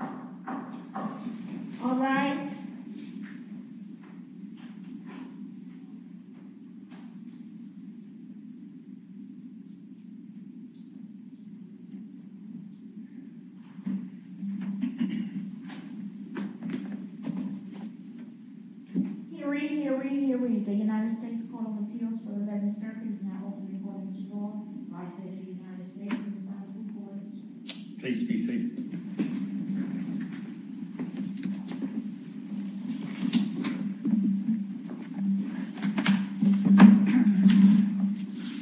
All rise. Hear, ye, hear, ye, hear, ye. The United States Court of Appeals for the Venice Circus now opens its door. Please be seated.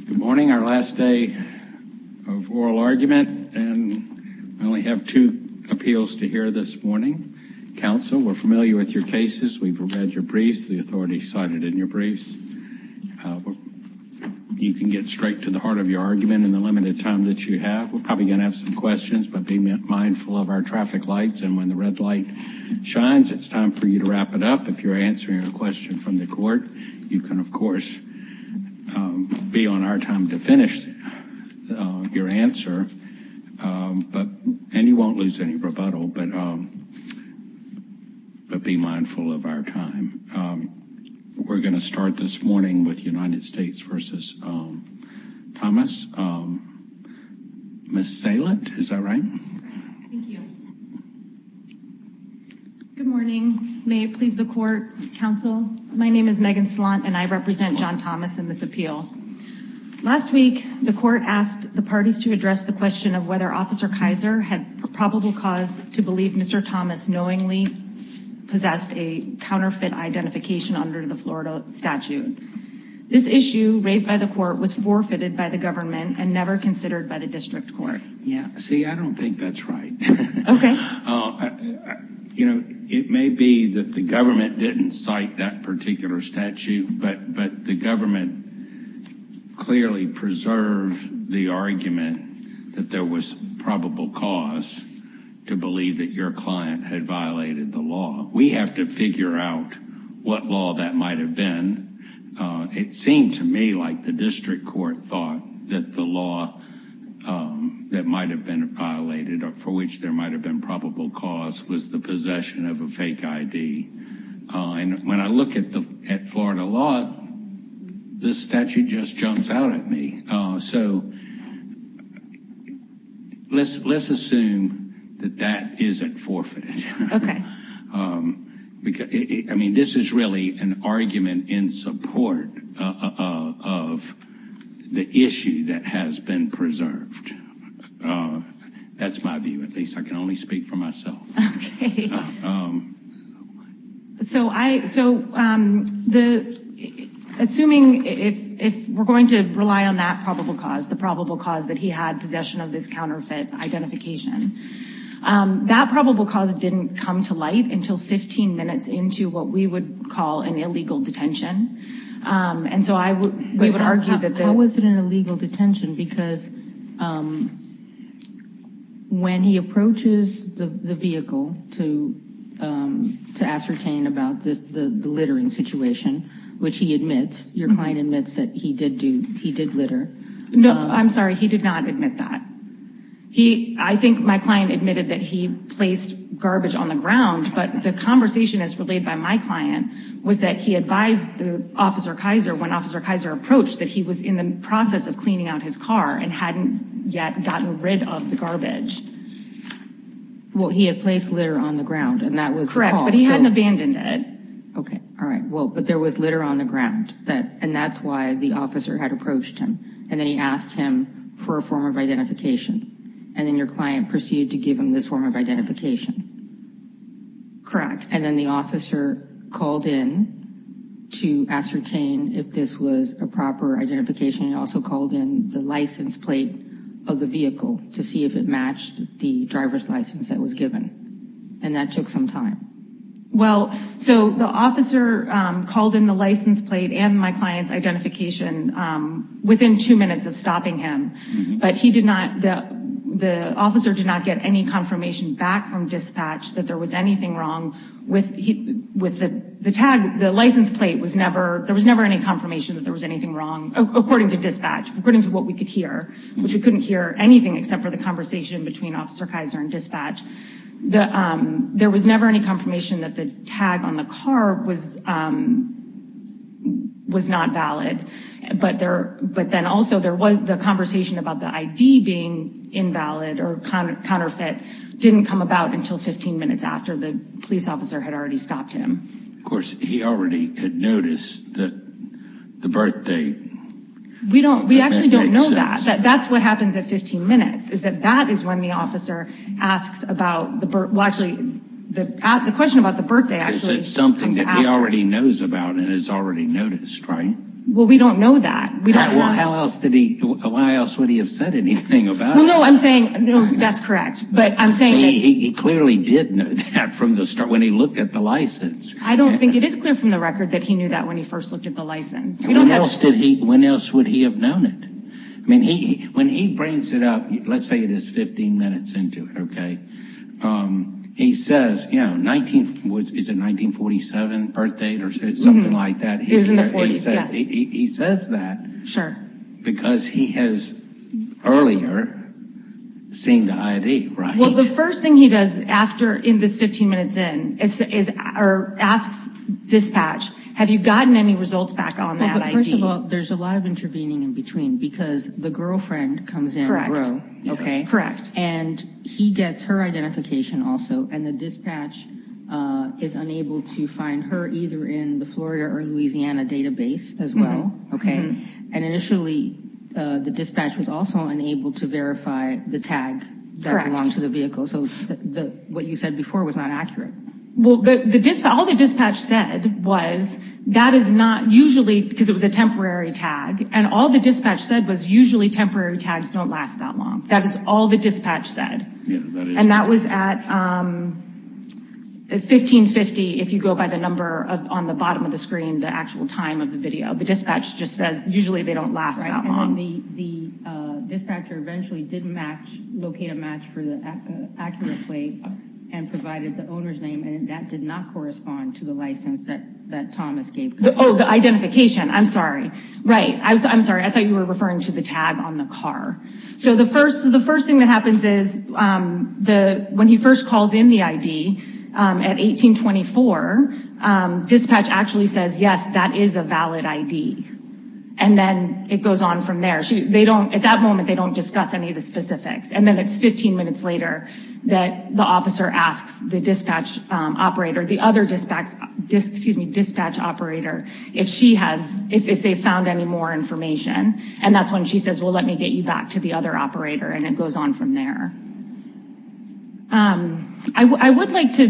Good morning. Our last day of oral argument, and I only have two appeals to hear this morning. Counsel, we're familiar with your cases. We've read your briefs, the authority cited in your briefs. You can get straight to the heart of your argument in the limited time that you have. We're probably going to have some questions, but be mindful of our traffic lights. And when the red light shines, it's time for you to wrap it up. If you're answering a question from the court, you can, of course, be on our time to finish your answer. But and you won't lose any rebuttal, but be mindful of our time. We're going to start this morning with United States v. Thomas. Ms. Salant, is that right? Thank you. Good morning. May it please the court, counsel. My name is Megan Salant, and I represent John Thomas in this appeal. Last week, the court asked the parties to address the question of whether Officer Kaiser had probable cause to believe Mr. Thomas knowingly possessed a counterfeit identification under the Florida statute. This issue raised by the court was forfeited by the government and never considered by the district court. Yeah, see, I don't think that's right. OK. You know, it may be that the government didn't cite that particular statute, but the government clearly preserved the argument that there was probable cause to believe that your client had violated the law. We have to figure out what law that might have been. It seemed to me like the district court thought that the law that might have been violated or for which there might have been probable cause was the possession of a fake I.D. And when I look at the Florida law, this statute just jumps out at me. So let's assume that that isn't forfeited. I mean, this is really an argument in support of the issue that has been preserved. That's my view. At least I can only speak for myself. So I so the assuming if if we're going to rely on that probable cause, the probable cause that he had possession of this counterfeit identification, that probable cause didn't come to light until 15 minutes into what we would call an illegal detention. And so I would argue that there was an illegal detention because when he approaches the vehicle to to ascertain about the littering situation, which he admits your client admits that he did do, he did litter. No, I'm sorry. He did not admit that he I think my client admitted that he placed garbage on the ground. But the conversation is relayed by my client was that he advised the officer Kaiser when officer Kaiser approached that he was in the process of cleaning out his car and hadn't yet gotten rid of the garbage. Well, he had placed litter on the ground and that was correct, but he hadn't abandoned it. OK. All right. Well, but there was litter on the ground that and that's why the officer had approached him. And then he asked him for a form of identification. And then your client proceeded to give him this form of identification. Correct. And then the officer called in to ascertain if this was a proper identification. He also called in the license plate of the vehicle to see if it matched the driver's license that was given. And that took some time. Well, so the officer called in the license plate and my client's identification within two minutes of stopping him. But he did not. The officer did not get any confirmation back from dispatch that there was anything wrong with with the tag. The license plate was never there was never any confirmation that there was anything wrong, according to dispatch, according to what we could hear, which we couldn't hear anything except for the conversation between officer Kaiser and dispatch. There was never any confirmation that the tag on the car was was not valid. But there but then also there was the conversation about the I.D. being invalid or counterfeit didn't come about until 15 minutes after the police officer had already stopped him. Of course, he already had noticed that the birthday. We don't we actually don't know that that's what happens at 15 minutes is that that is when the officer asks about the actually the question about the birthday. I said something that he already knows about and has already noticed. Right. Well, we don't know that. Well, how else did he. Why else would he have said anything about. No, I'm saying that's correct. But I'm saying he clearly didn't have from the start when he looked at the license. I don't think it is clear from the record that he knew that when he first looked at the license. When else did he when else would he have known it? I mean, he when he brings it up, let's say it is 15 minutes into it. OK, he says, you know, 19 is a 1947 birthday or something like that. He says that. Sure. Because he has earlier seen the I.D. Well, the first thing he does after in this 15 minutes in is or asks dispatch, have you gotten any results back on that? First of all, there's a lot of intervening in between because the girlfriend comes in. Correct. OK, correct. And he gets her identification also. And the dispatch is unable to find her either in the Florida or Louisiana database as well. OK. And initially the dispatch was also unable to verify the tag that belongs to the vehicle. So what you said before was not accurate. Well, the dispatch, all the dispatch said was that is not usually because it was a temporary tag. And all the dispatch said was usually temporary tags don't last that long. That is all the dispatch said. And that was at 1550. If you go by the number on the bottom of the screen, the actual time of the video, the dispatch just says usually they don't last that long. The dispatcher eventually did match, locate a match for the accurate plate and provided the owner's name. And that did not correspond to the license that Thomas gave. Oh, the identification. I'm sorry. Right. I'm sorry. I thought you were referring to the tag on the car. So the first the first thing that happens is the when he first calls in the I.D. at 1824, dispatch actually says, yes, that is a valid I.D. And then it goes on from there. They don't at that moment, they don't discuss any of the specifics. And then it's 15 minutes later that the officer asks the dispatch operator, the other dispatch, excuse me, dispatch operator, if she has if they found any more information. And that's when she says, well, let me get you back to the other operator. And it goes on from there. I would like to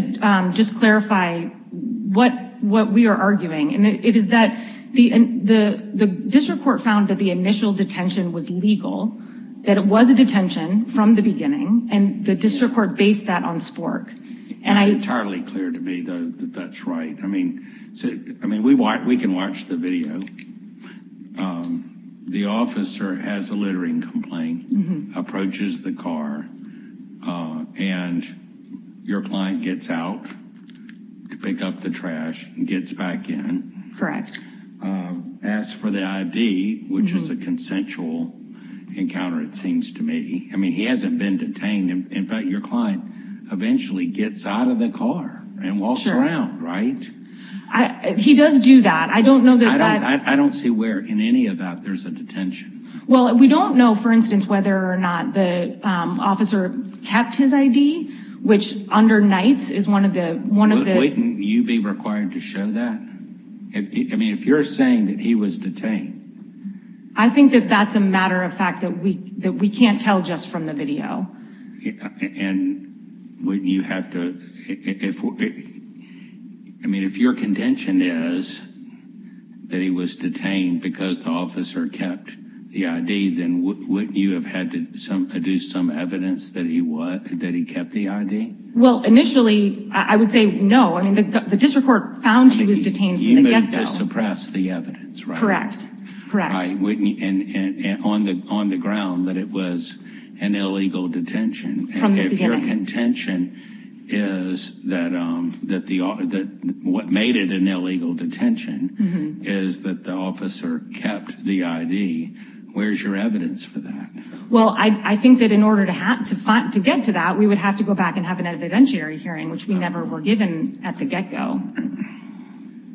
just clarify what what we are arguing. And it is that the the district court found that the initial detention was legal, that it was a detention from the beginning. And the district court based that on Spork. And it's entirely clear to me that that's right. I mean, I mean, we want we can watch the video. The officer has a littering complaint, approaches the car and your client gets out to pick up the trash and gets back in. Correct. As for the I.D., which is a consensual encounter, it seems to me, I mean, he hasn't been detained. In fact, your client eventually gets out of the car and walks around. Right. He does do that. I don't know that. I don't see where in any of that there's a detention. Well, we don't know, for instance, whether or not the officer kept his I.D., which under Knights is one of the one of the. Wouldn't you be required to show that if I mean, if you're saying that he was detained? I think that that's a matter of fact, that we that we can't tell just from the video. And would you have to if I mean, if your contention is that he was detained because the officer kept the I.D., then wouldn't you have had to do some evidence that he was that he kept the I.D.? Well, initially, I would say no. I mean, the district court found he was detained. Suppress the evidence. Correct. Correct. And on the on the ground that it was an illegal detention from your contention is that that the that what made it an illegal detention is that the officer kept the I.D. Where's your evidence for that? Well, I think that in order to have to fight to get to that, we would have to go back and have an evidentiary hearing, which we never were given at the get go.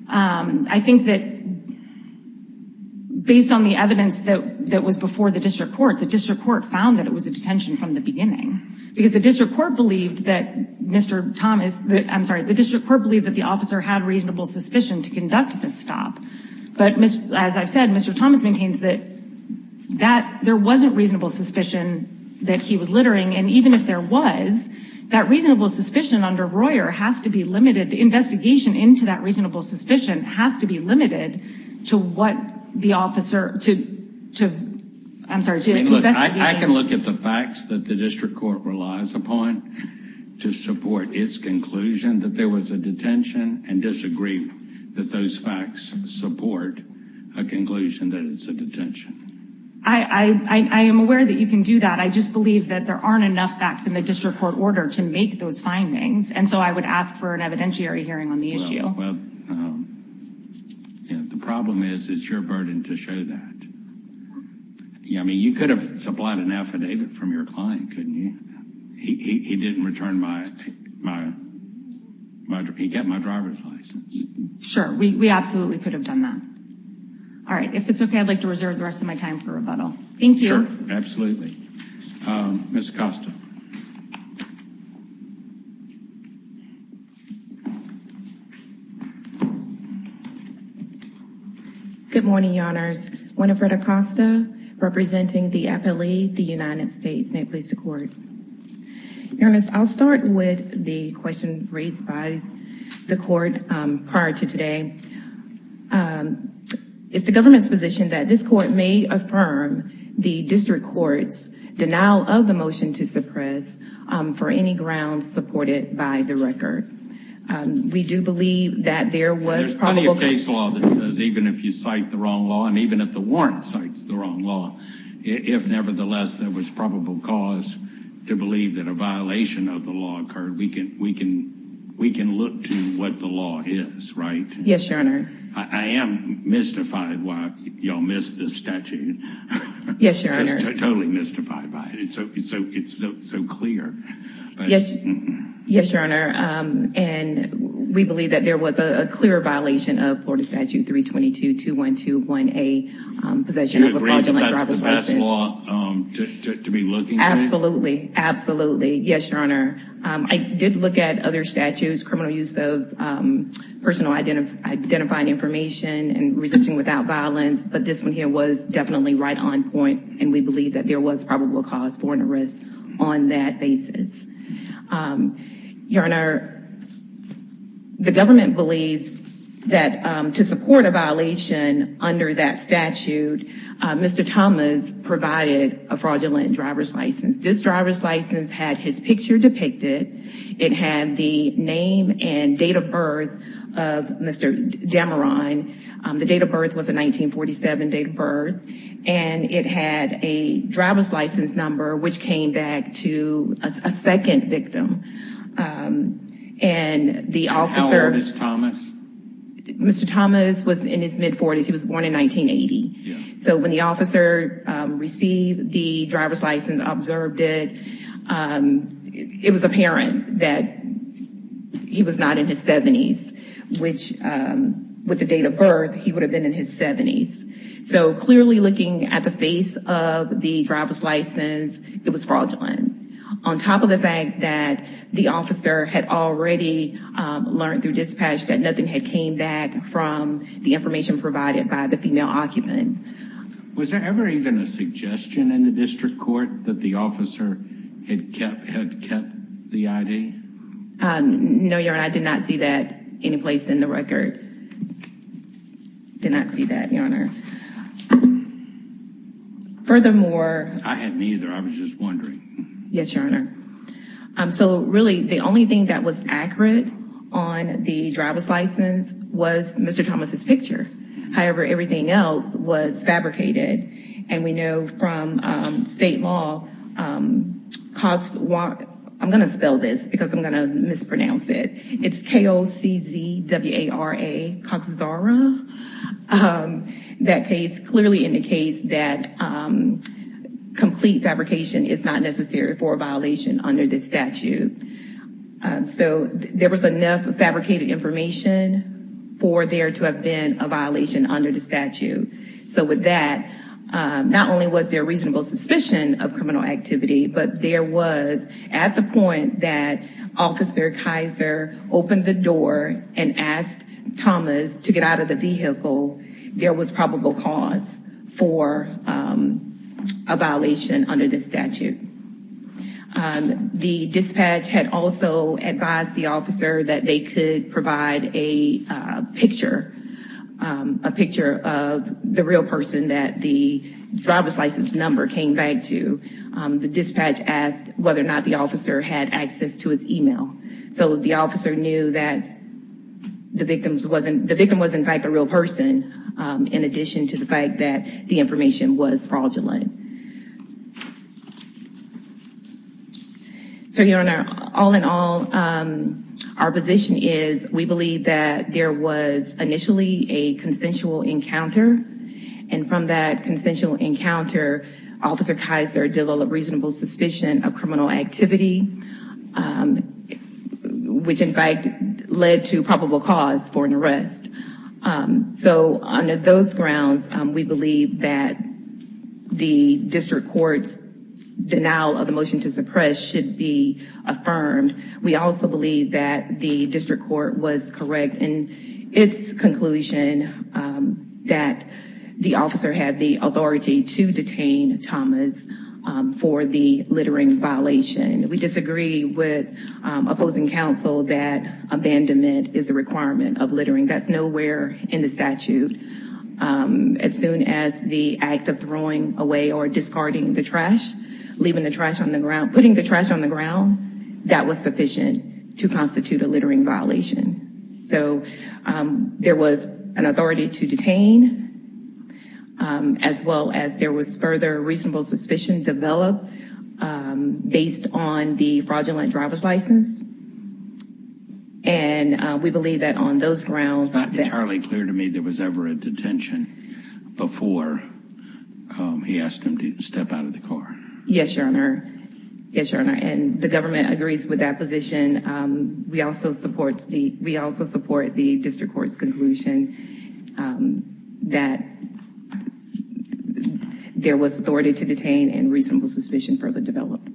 I think that. Based on the evidence that that was before the district court, the district court found that it was a detention from the beginning because the district court believed that Mr. Thomas, I'm sorry, the district court believed that the officer had reasonable suspicion to conduct the stop. But as I've said, Mr. Thomas maintains that that there wasn't reasonable suspicion that he was littering. And even if there was that reasonable suspicion under Royer has to be limited. The investigation into that reasonable suspicion has to be limited to what the officer to to. I can look at the facts that the district court relies upon to support its conclusion that there was a detention and disagree that those facts support a conclusion that it's a detention. I am aware that you can do that. I just believe that there aren't enough facts in the district court order to make those findings. And so I would ask for an evidentiary hearing on the issue. Well, the problem is, it's your burden to show that. Yeah, I mean, you could have supplied an affidavit from your client, couldn't you? He didn't return my my. He got my driver's license. Sure, we absolutely could have done that. All right. If it's OK, I'd like to reserve the rest of my time for rebuttal. Thank you. Absolutely. Miss Costa. Good morning, Your Honors. Winifred Acosta representing the appellee, the United States. May it please the court. Your Honor, I'll start with the question raised by the court prior to today. It's the government's position that this court may affirm the district court's denial of the motion to suppress for any grounds supported by the record. We do believe that there was probably a case law that says even if you cite the wrong law and even if the warrant cites the wrong law, if nevertheless there was probable cause to believe that a violation of the law occurred, we can we can we can look to what the law is. That's right. Yes, Your Honor. I am mystified why y'all missed this statute. Yes, Your Honor. Totally mystified by it. It's so it's so it's so clear. Yes. Yes, Your Honor. And we believe that there was a clear violation of Florida Statute 322-2121A. Possession of a fraudulent driver's license. Do you agree that's the best law to be looking for? Absolutely. Absolutely. Yes, Your Honor. I did look at other statutes, criminal use of personal identity, identifying information and resisting without violence. But this one here was definitely right on point. And we believe that there was probable cause for an arrest on that basis. Your Honor, the government believes that to support a violation under that statute, Mr. Thomas provided a fraudulent driver's license. This driver's license had his picture depicted. It had the name and date of birth of Mr. Dameron. The date of birth was a 1947 date of birth. And it had a driver's license number, which came back to a second victim. And the officer, Mr. Thomas was in his mid 40s. He was born in 1980. So when the officer received the driver's license, observed it, it was apparent that he was not in his 70s. Which with the date of birth, he would have been in his 70s. So clearly looking at the face of the driver's license, it was fraudulent. On top of the fact that the officer had already learned through dispatch that nothing had came back from the information provided by the female occupant. Was there ever even a suggestion in the district court that the officer had kept the ID? No, Your Honor. I did not see that any place in the record. Did not see that, Your Honor. Furthermore, I had neither. I was just wondering. Yes, Your Honor. So really, the only thing that was accurate on the driver's license was Mr. Thomas's picture. However, everything else was fabricated. And we know from state law, Cox, I'm going to spell this because I'm going to mispronounce it. It's K-O-C-Z-W-A-R-A, Cox-Zara. That case clearly indicates that complete fabrication is not necessary for a violation under this statute. So there was enough fabricated information for there to have been a violation under the statute. So with that, not only was there reasonable suspicion of criminal activity, but there was at the point that Officer Kaiser opened the door and asked Thomas to get out of the vehicle, there was probable cause for a violation under the statute. The dispatch had also advised the officer that they could provide a picture, a picture of the real person that the driver's license number came back to. The dispatch asked whether or not the officer had access to his email. So the officer knew that the victim was, in fact, a real person, in addition to the fact that the information was fraudulent. So, Your Honor, all in all, our position is we believe that there was initially a consensual encounter, and from that consensual encounter, Officer Kaiser developed reasonable suspicion of criminal activity, which, in fact, led to probable cause for an arrest. So under those grounds, we believe that the district court's denial of the motion to suppress should be affirmed. We also believe that the district court was correct in its conclusion that the officer had the authority to detain Thomas for the littering violation. We disagree with opposing counsel that abandonment is a requirement of littering. That's nowhere in the statute. As soon as the act of throwing away or discarding the trash, leaving the trash on the ground, putting the trash on the ground, that was sufficient to constitute a littering violation. So there was an authority to detain, as well as there was further reasonable suspicion developed based on the fraudulent driver's license. And we believe that on those grounds... It's not entirely clear to me there was ever a detention before he asked him to step out of the car. Yes, Your Honor. Yes, Your Honor. And the government agrees with that position. We also support the district court's conclusion that there was authority to detain and reasonable suspicion further developed.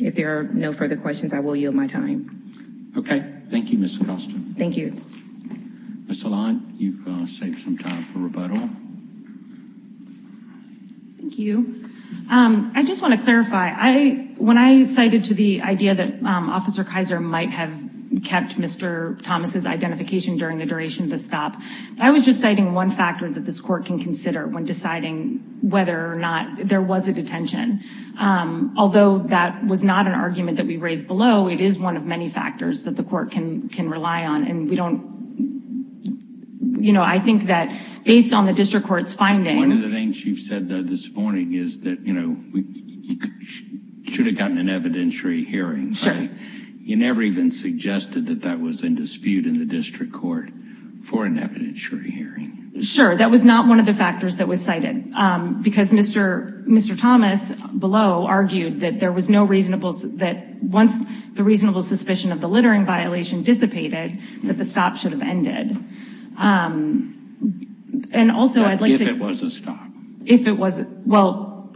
If there are no further questions, I will yield my time. Okay. Thank you, Ms. Acosta. Thank you. Ms. Salant, you've saved some time for rebuttal. Thank you. I just want to clarify. When I cited to the idea that Officer Kaiser might have kept Mr. Thomas' identification during the duration of the stop, I was just citing one factor that this court can consider when deciding whether or not there was a detention. Although that was not an argument that we raised below, it is one of many factors that the court can rely on. And we don't... You know, I think that based on the district court's finding... One of the things you've said this morning is that, you know, you should have gotten an evidentiary hearing. Sure. But you never even suggested that that was in dispute in the district court for an evidentiary hearing. That was not one of the factors that was cited. Because Mr. Thomas, below, argued that there was no reasonable... That once the reasonable suspicion of the littering violation dissipated, that the stop should have ended. And also, I'd like to... If it was a stop. If it was... Well,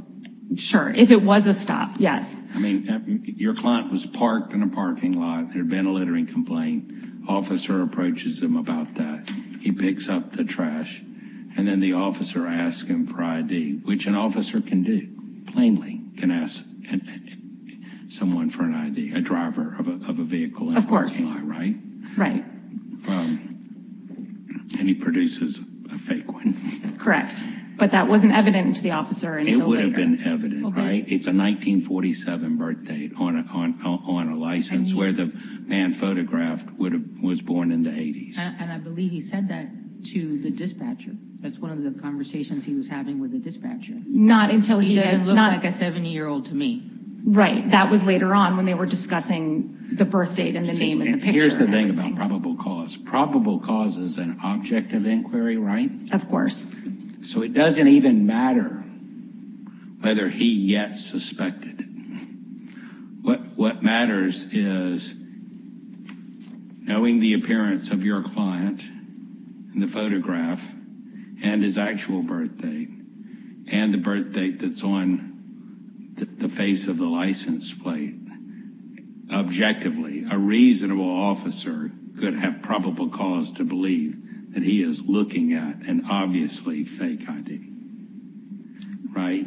sure. If it was a stop, yes. I mean, your client was parked in a parking lot. There had been a littering complaint. Officer approaches him about that. He picks up the trash. And then the officer asks him for ID. Which an officer can do. Plainly. Can ask someone for an ID. A driver of a vehicle in a parking lot, right? Right. And he produces a fake one. Correct. But that wasn't evident to the officer until later. It would have been evident, right? It's a 1947 birthdate on a license. Where the man photographed was born in the 80s. And I believe he said that to the dispatcher. That's one of the conversations he was having with the dispatcher. Not until he... He doesn't look like a 70-year-old to me. Right. That was later on when they were discussing the birthdate and the name and the picture. Here's the thing about probable cause. Probable cause is an object of inquiry, right? Of course. So it doesn't even matter whether he yet suspected it. What matters is knowing the appearance of your client. And the photograph. And his actual birthdate. And the birthdate that's on the face of the license plate. Objectively, a reasonable officer could have probable cause to believe that he is looking at an obviously fake ID. Right?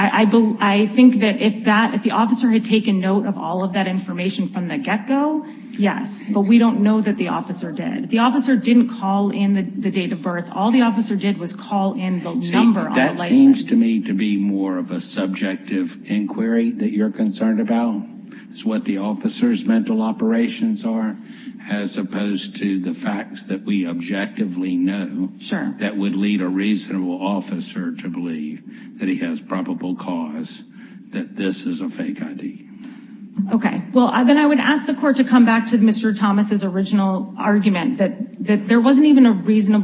I think that if the officer had taken note of all of that information from the get-go, yes. But we don't know that the officer did. The officer didn't call in the date of birth. All the officer did was call in the number on the license. That seems to me to be more of a subjective inquiry that you're concerned about. It's what the officer's mental operations are. As opposed to the facts that we objectively know. That would lead a reasonable officer to believe that he has probable cause that this is a fake ID. Okay. Well, then I would ask the court to come back to Mr. Thomas' original argument. That there wasn't even a reason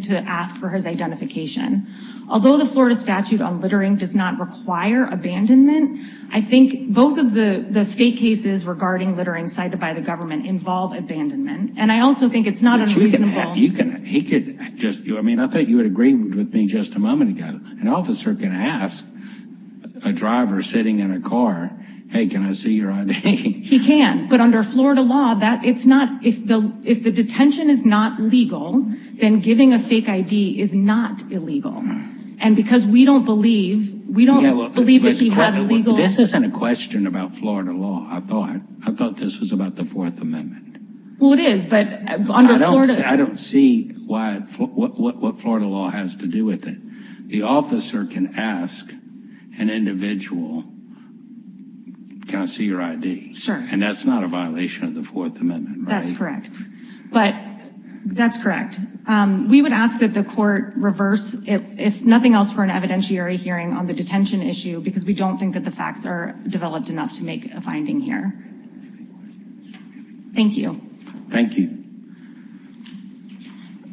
to ask for his identification. Although the Florida statute on littering does not require abandonment, I think both of the state cases regarding littering cited by the government involve abandonment. And I also think it's not unreasonable... You can... He could just... I mean, I thought you would agree with me just a moment ago. An officer can ask a driver sitting in a car, Hey, can I see your ID? He can. But under Florida law, it's not... If the detention is not legal, then giving a fake ID is not illegal. And because we don't believe... We don't believe that he had legal... This isn't a question about Florida law, I thought. I thought this was about the Fourth Amendment. Well, it is, but under Florida... I don't see what Florida law has to do with it. The officer can ask an individual, Can I see your ID? Sure. And that's not a violation of the Fourth Amendment, right? That's correct. But, that's correct. We would ask that the court reverse, if nothing else, for an evidentiary hearing on the detention issue, because we don't think that the facts are developed enough to make a finding here. Thank you. Thank you.